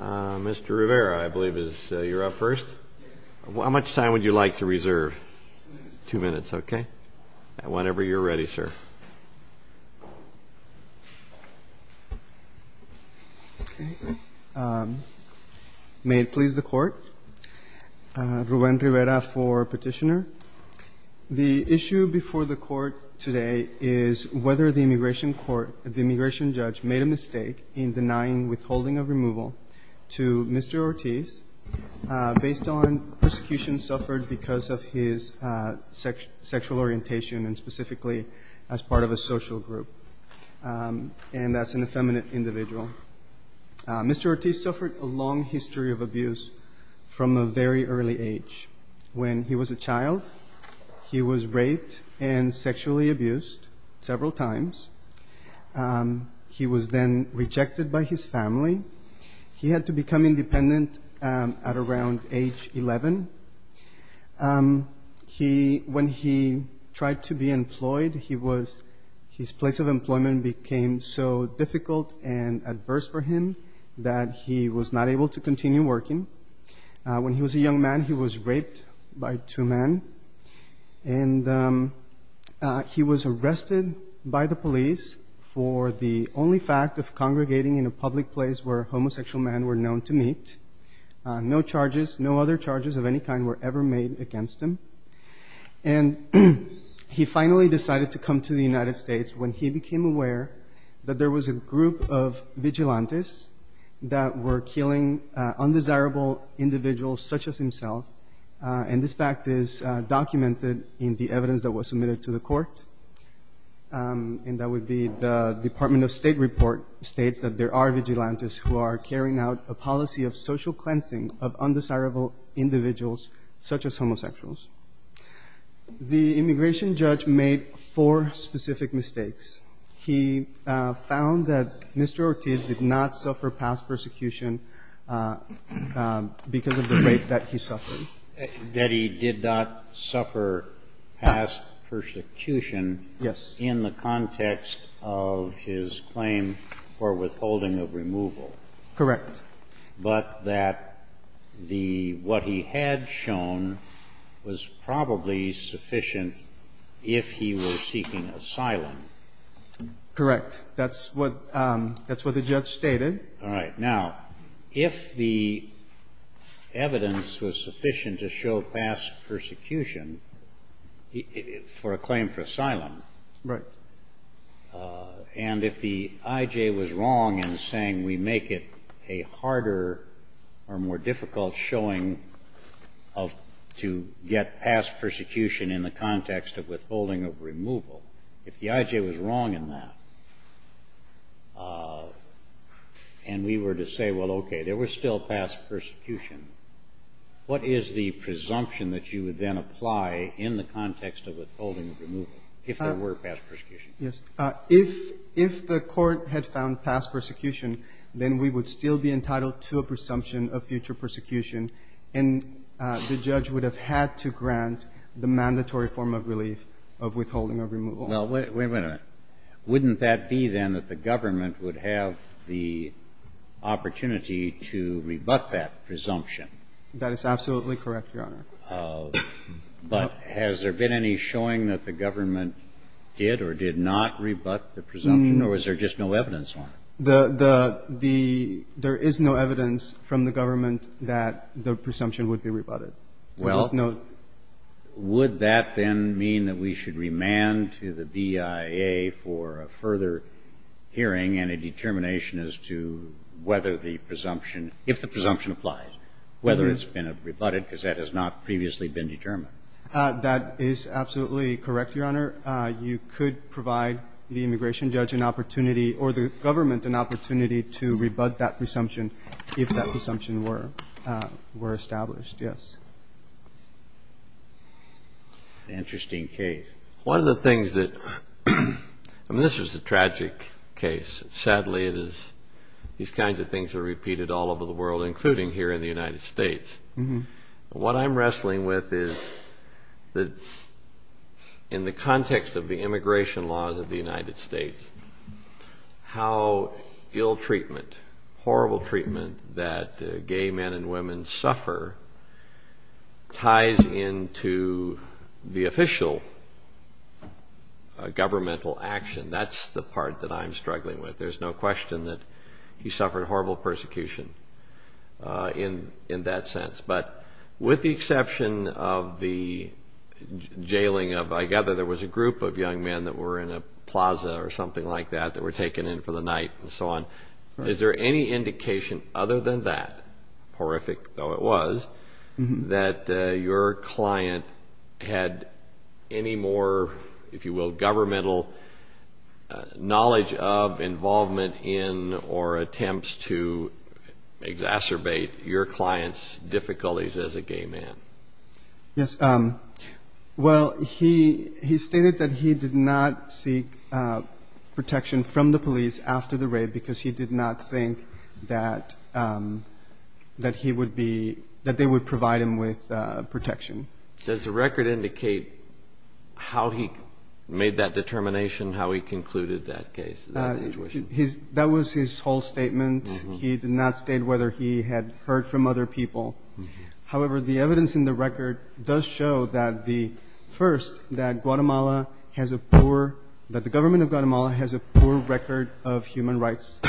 Mr. Rivera, I believe you're up first. How much time would you like to reserve? Two minutes. Two minutes, okay. Whenever you're ready, sir. May it please the Court, Ruben Rivera for petitioner. The issue before the Court today is whether the immigration court, which made a mistake in denying withholding of removal to Mr. Ortiz based on persecution suffered because of his sexual orientation and specifically as part of a social group, and that's an effeminate individual. Mr. Ortiz suffered a long history of abuse from a very early age. When he was a child, he was raped and sexually abused several times. He was then rejected by his family. He had to become independent at around age 11. When he tried to be employed, his place of employment became so difficult and adverse for him that he was not able to continue working. When he was a young man, he was raped by two men, and he was arrested by the police for the only fact of congregating in a public place where homosexual men were known to meet. No other charges of any kind were ever made against him. And he finally decided to come to the United States when he became aware that there was a group of vigilantes that were killing undesirable individuals such as himself, and this fact is documented in the evidence that was submitted to the court, and that would be the Department of State report states that there are vigilantes who are carrying out a policy of social cleansing of undesirable individuals such as homosexuals. The immigration judge made four specific mistakes. He found that Mr. Ortiz did not suffer past persecution because of the rape that he suffered. That he did not suffer past persecution. Yes. In the context of his claim for withholding of removal. Correct. But that what he had shown was probably sufficient if he was seeking asylum. Correct. That's what the judge stated. All right. Now, if the evidence was sufficient to show past persecution for a claim for asylum. Right. And if the I.J. was wrong in saying we make it a harder or more difficult showing to get past persecution in the context of withholding of removal, if the I.J. was wrong in that, and we were to say, well, okay, there was still past persecution, what is the presumption that you would then apply in the context of withholding of removal if there were past persecution? Yes. If the court had found past persecution, then we would still be entitled to a presumption of future persecution, and the judge would have had to grant the mandatory form of relief of withholding of removal. Well, wait a minute. Wouldn't that be, then, that the government would have the opportunity to rebut that presumption? That is absolutely correct, Your Honor. But has there been any showing that the government did or did not rebut the presumption, or was there just no evidence on it? There is no evidence from the government that the presumption would be rebutted. Well, would that then mean that we should remand to the BIA for a further hearing and a determination as to whether the presumption, if the presumption applies, whether it's been rebutted, because that has not previously been determined? That is absolutely correct, Your Honor. You could provide the immigration judge an opportunity or the government an opportunity to rebut that presumption if that presumption were established, yes. Interesting case. One of the things that, I mean, this was a tragic case. Sadly, these kinds of things are repeated all over the world, including here in the United States. What I'm wrestling with is that in the context of the immigration laws of the United States, how ill treatment, horrible treatment that gay men and women suffer ties into the official governmental action. That's the part that I'm struggling with. There's no question that he suffered horrible persecution in that sense. But with the exception of the jailing of, I gather there was a group of young men that were in a plaza or something like that that were taken in for the night and so on. Is there any indication other than that, horrific though it was, that your client had any more, if you will, governmental knowledge of involvement in or attempts to exacerbate your client's difficulties as a gay man? Yes. Well, he stated that he did not seek protection from the police after the rape because he did not think that he would be, that they would provide him with protection. Does the record indicate how he made that determination, how he concluded that case? That was his whole statement. He did not state whether he had heard from other people. However, the evidence in the record does show that the first, that Guatemala has a poor, that the government of Guatemala has a poor record of human rights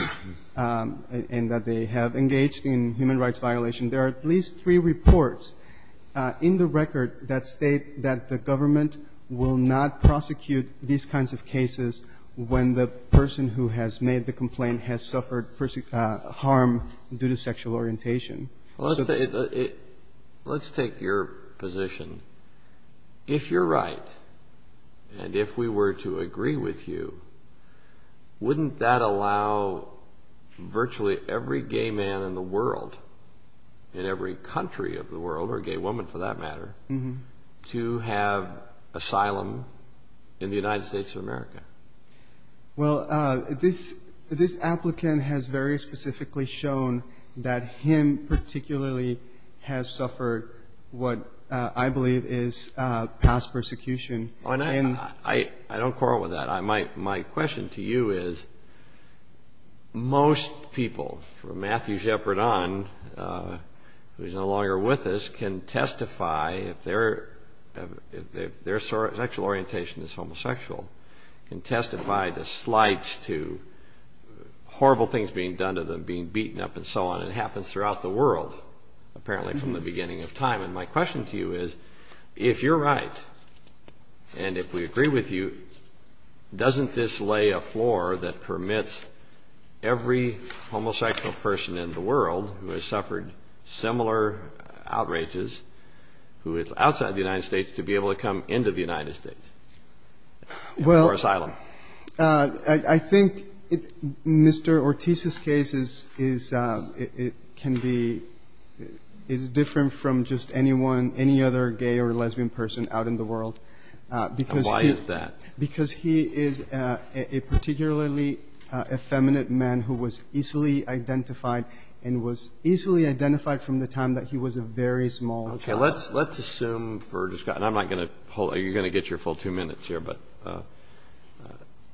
and that they have engaged in human rights violation. There are at least three reports in the record that state that the government will not prosecute these kinds of cases when the person who has made the complaint has suffered harm due to sexual orientation. Let's take your position. If you're right and if we were to agree with you, wouldn't that allow virtually every gay man in the world, in every country of the world, or gay woman for that matter, to have asylum in the United States of America? Well, this applicant has very specifically shown that him particularly has suffered what I believe is past persecution. I don't quarrel with that. My question to you is, most people, from Matthew Shepard on, who is no longer with us, can testify if their sexual orientation is homosexual, can testify to slights, to horrible things being done to them, being beaten up and so on. It happens throughout the world apparently from the beginning of time. And my question to you is, if you're right and if we agree with you, doesn't this lay a floor that permits every homosexual person in the world who has suffered similar outrages who is outside the United States to be able to come into the United States for asylum? I think Mr. Ortiz's case is different from just anyone, any other gay or lesbian person out in the world. Why is that? Because he is a particularly effeminate man who was easily identified and was easily identified from the time that he was a very small child. Okay, let's assume for just a second. I'm not going to hold it. You're going to get your full two minutes here. But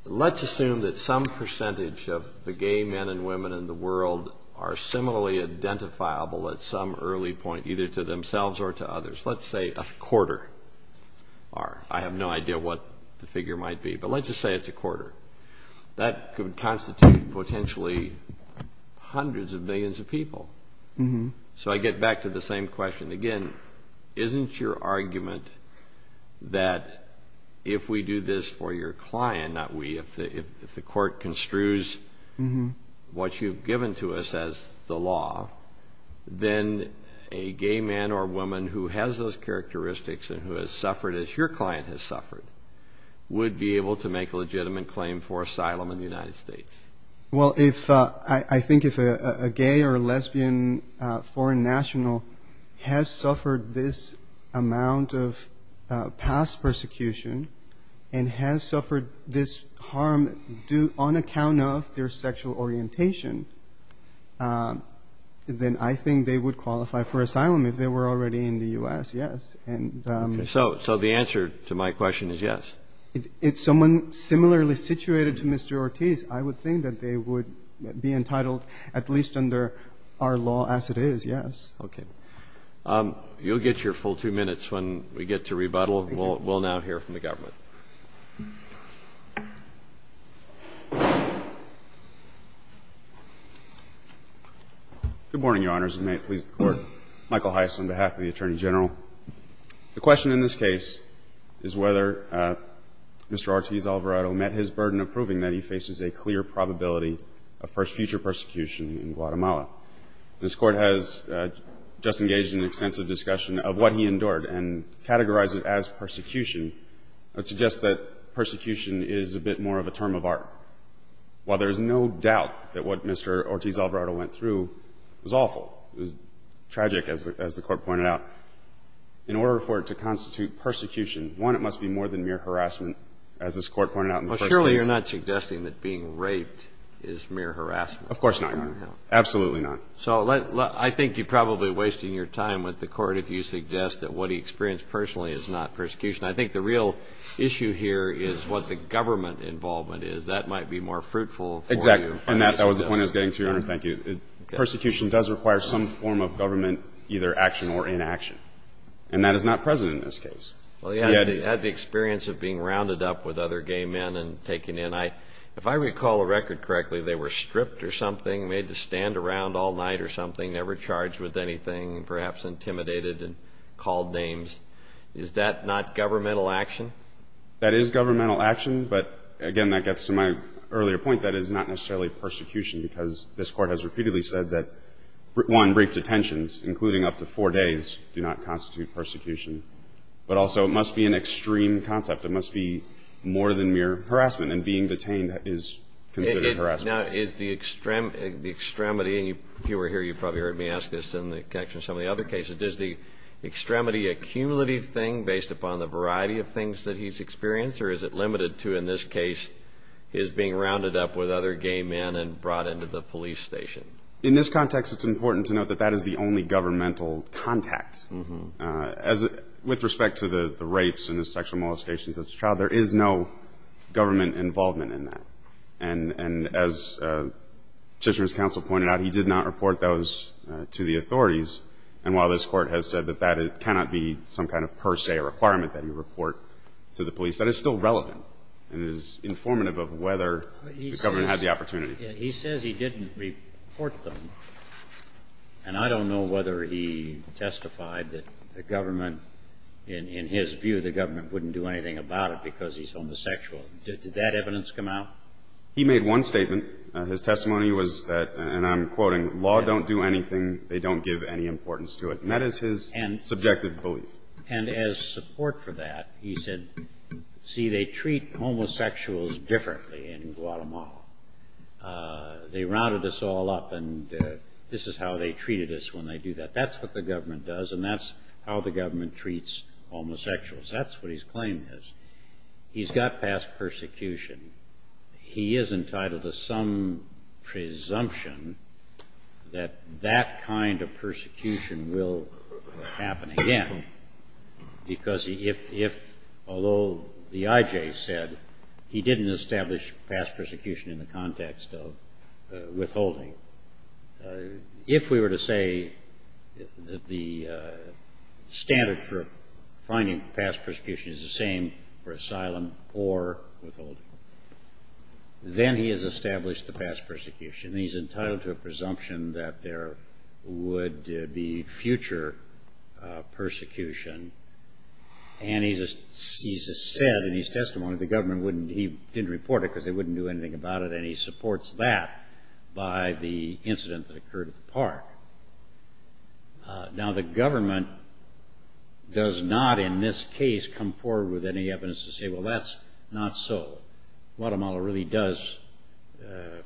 let's assume that some percentage of the gay men and women in the world are similarly identifiable at some early point, either to themselves or to others. Let's say a quarter are. I have no idea what the figure might be, but let's just say it's a quarter. That could constitute potentially hundreds of millions of people. So I get back to the same question again. Isn't your argument that if we do this for your client, if the court construes what you've given to us as the law, then a gay man or woman who has those characteristics and who has suffered as your client has suffered would be able to make a legitimate claim for asylum in the United States? Well, I think if a gay or a lesbian foreign national has suffered this amount of past persecution and has suffered this harm on account of their sexual orientation, then I think they would qualify for asylum if they were already in the U.S., yes. So the answer to my question is yes. If someone similarly situated to Mr. Ortiz, I would think that they would be entitled at least under our law as it is, yes. Okay. You'll get your full two minutes when we get to rebuttal. We'll now hear from the government. Good morning, Your Honors, and may it please the Court. Michael Heiss on behalf of the Attorney General. The question in this case is whether Mr. Ortiz-Alvarado met his burden of proving that he faces a clear probability of future persecution in Guatemala. This Court has just engaged in an extensive discussion of what he endured and categorized it as persecution. I would suggest that persecution is a bit more of a term of art. While there is no doubt that what Mr. Ortiz-Alvarado went through was awful, tragic, as the Court pointed out, in order for it to constitute persecution, one, it must be more than mere harassment, as this Court pointed out in the first case. Well, surely you're not suggesting that being raped is mere harassment. Of course not. Absolutely not. So I think you're probably wasting your time with the Court if you suggest that what he experienced personally is not persecution. I think the real issue here is what the government involvement is. That might be more fruitful for you. Exactly. And that was the point I was getting to, Your Honor. Thank you. Persecution does require some form of government either action or inaction. And that is not present in this case. He had the experience of being rounded up with other gay men and taken in. If I recall the record correctly, they were stripped or something, made to stand around all night or something, never charged with anything, perhaps intimidated and called names. Is that not governmental action? That is governmental action. But, again, that gets to my earlier point. That is not necessarily persecution because this Court has repeatedly said that, one, brief detentions, including up to four days, do not constitute persecution. But also it must be an extreme concept. It must be more than mere harassment. And being detained is considered harassment. Now, is the extremity, and if you were here, you probably heard me ask this in connection to some of the other cases, does the extremity accumulative thing, based upon the variety of things that he's experienced, or is it limited to, in this case, his being rounded up with other gay men and brought into the police station? In this context, it's important to note that that is the only governmental contact. With respect to the rapes and the sexual molestations of the child, there is no government involvement in that. And as Chisholm's counsel pointed out, he did not report those to the authorities. And while this Court has said that that cannot be some kind of per se requirement that you report to the police, that is still relevant and is informative of whether the government had the opportunity. He says he didn't report them. And I don't know whether he testified that the government, in his view, the government wouldn't do anything about it because he's homosexual. Did that evidence come out? He made one statement. His testimony was that, and I'm quoting, law don't do anything, they don't give any importance to it. And that is his subjective belief. And as support for that, he said, see, they treat homosexuals differently in Guatemala. They rounded us all up, and this is how they treated us when they do that. That's what the government does, and that's how the government treats homosexuals. That's what his claim is. He's got past persecution. He is entitled to some presumption that that kind of persecution will happen again, because if, although the IJ said he didn't establish past persecution in the context of withholding, if we were to say that the standard for finding past persecution is the same for asylum or withholding, then he has established the past persecution. He's entitled to a presumption that there would be future persecution. And he's said in his testimony the government wouldn't, he didn't report it because they wouldn't do anything about it, and he supports that by the incident that occurred at the park. Now, the government does not in this case come forward with any evidence to say, well, that's not so. Guatemala really does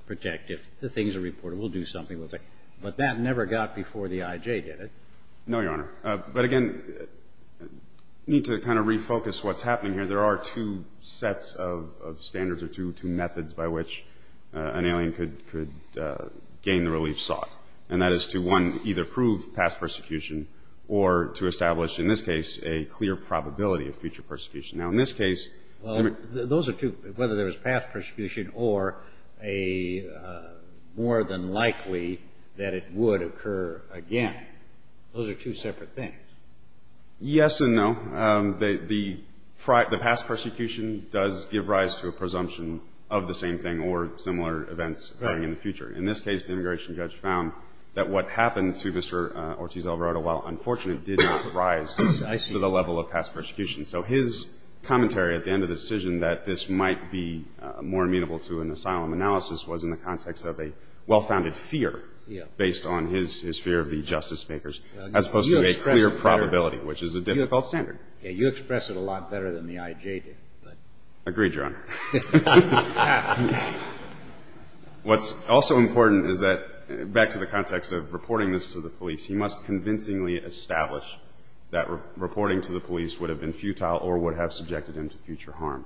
protect. If the things are reported, we'll do something with it. But that never got before the IJ, did it? No, Your Honor. But, again, I need to kind of refocus what's happening here. There are two sets of standards or two methods by which an alien could gain the relief sought, and that is to, one, either prove past persecution or to establish, in this case, a clear probability of future persecution. Now, in this case- Well, those are two. Whether there was past persecution or a more than likely that it would occur again, those are two separate things. Yes and no. The past persecution does give rise to a presumption of the same thing or similar events occurring in the future. In this case, the immigration judge found that what happened to Mr. Ortiz-Alvarado, while unfortunate, did not rise to the level of past persecution. So his commentary at the end of the decision that this might be more amenable to an asylum analysis was in the context of a well-founded fear based on his fear of the justice makers, as opposed to a clear probability, which is a difficult standard. You express it a lot better than the IJ did. Agreed, Your Honor. What's also important is that, back to the context of reporting this to the police, he must convincingly establish that reporting to the police would have been futile or would have subjected him to future harm.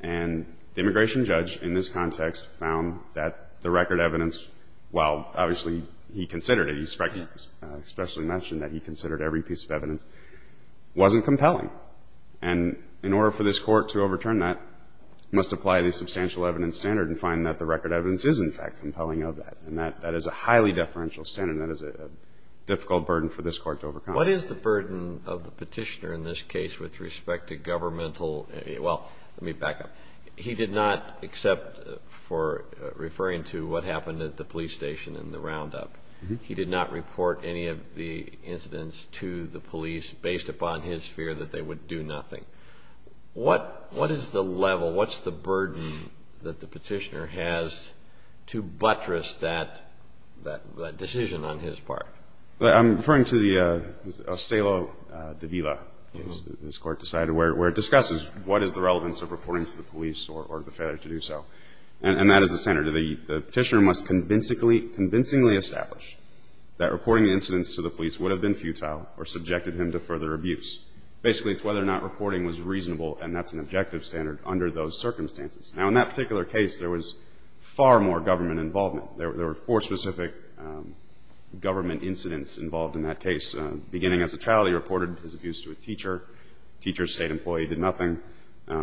And the immigration judge, in this context, found that the record evidence, while obviously he considered it, he especially mentioned that he considered every piece of evidence, wasn't compelling. And in order for this Court to overturn that, it must apply the substantial evidence standard and find that the record evidence is, in fact, compelling of that. And that is a highly deferential standard. That is a difficult burden for this Court to overcome. What is the burden of the Petitioner in this case with respect to governmental Well, let me back up. He did not accept for referring to what happened at the police station in the roundup. He did not report any of the incidents to the police based upon his fear that they would do nothing. What is the level, what's the burden that the Petitioner has to buttress that decision on his part? I'm referring to the Ocelo de Vila case that this Court decided where it discusses what is the relevance of reporting to the police or the failure to do so. And that is the standard. The Petitioner must convincingly establish that reporting incidents to the police would have been futile or subjected him to further abuse. Basically, it's whether or not reporting was reasonable, and that's an objective standard under those circumstances. Now, in that particular case, there was far more government involvement. There were four specific government incidents involved in that case. Beginning as a child, he reported his abuse to a teacher. The teacher's state employee did nothing.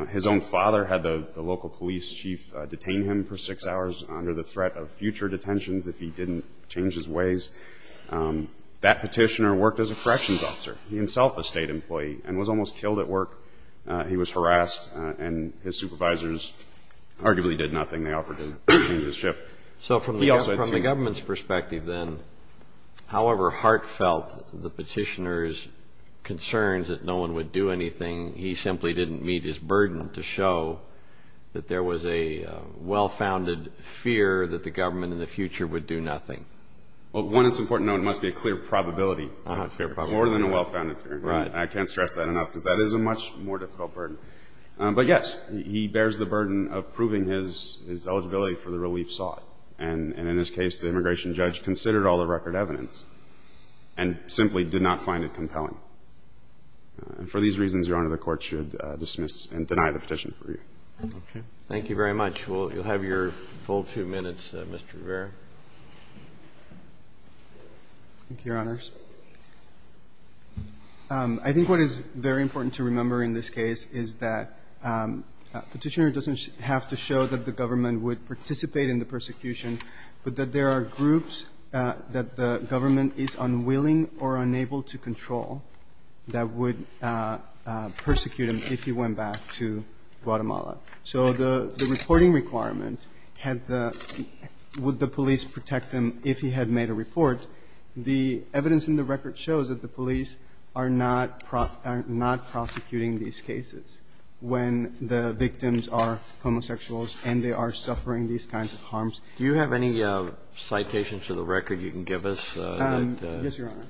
His own father had the local police chief detain him for six hours under the threat of future detentions if he didn't change his ways. That Petitioner worked as a corrections officer, himself a state employee, and was almost killed at work. He was harassed, and his supervisors arguably did nothing. They offered to change his shift. So from the government's perspective then, however heartfelt the Petitioner's concerns that no one would do anything, he simply didn't meet his burden to show that there was a well-founded fear that the government in the future would do nothing. Well, one that's important to note must be a clear probability. More than a well-founded fear. I can't stress that enough because that is a much more difficult burden. But yes, he bears the burden of proving his eligibility for the relief sought. And in this case, the immigration judge considered all the record evidence and simply did not find it compelling. And for these reasons, Your Honor, the Court should dismiss and deny the petition for you. Okay. Thank you very much. You'll have your full two minutes, Mr. Rivera. Thank you, Your Honors. I think what is very important to remember in this case is that Petitioner doesn't have to show that the government would participate in the persecution, but that there are groups that the government is unwilling or unable to control that would persecute him if he went back to Guatemala. So the reporting requirement had the --"Would the police protect him if he had made a report?" The evidence in the record shows that the police are not prosecuting these cases when the victims are homosexuals and they are suffering these kinds of harms. Do you have any citations to the record you can give us? Yes, Your Honor.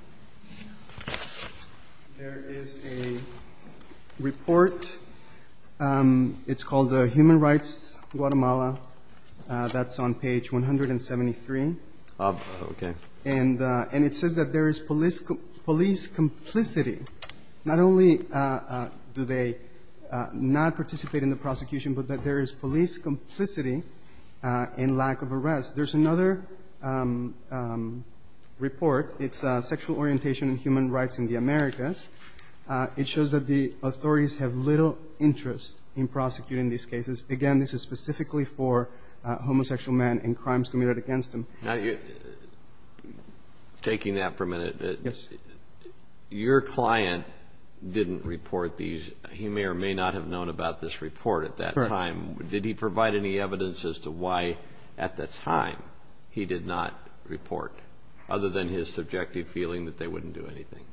There is a report. It's called Human Rights Guatemala. That's on page 173. Okay. And it says that there is police complicity. Not only do they not participate in the prosecution, but that there is police complicity and lack of arrest. There's another report. It's Sexual Orientation and Human Rights in the Americas. It shows that the authorities have little interest in prosecuting these cases. Again, this is specifically for homosexual men and crimes committed against them. Taking that for a minute, your client didn't report these. He may or may not have known about this report at that time. Correct. Did he provide any evidence as to why at that time he did not report, other than his subjective feeling that they wouldn't do anything?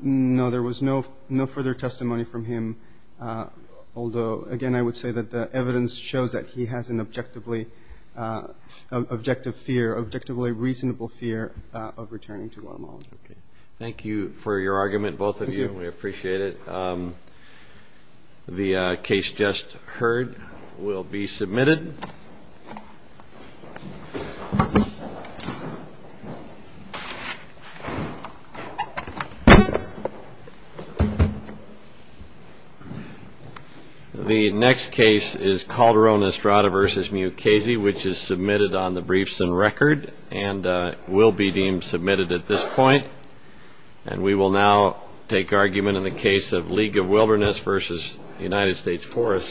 No, there was no further testimony from him, although, again, I would say that the evidence shows that he has an objective fear, objectively reasonable fear of returning to Guatemala. Thank you for your argument, both of you. We appreciate it. The case just heard will be submitted. The next case is Calderon Estrada v. Mukasey, which is submitted on the briefs and record and will be deemed submitted at this point. And we will now take argument in the case of League of Wilderness v. United States Forest Service.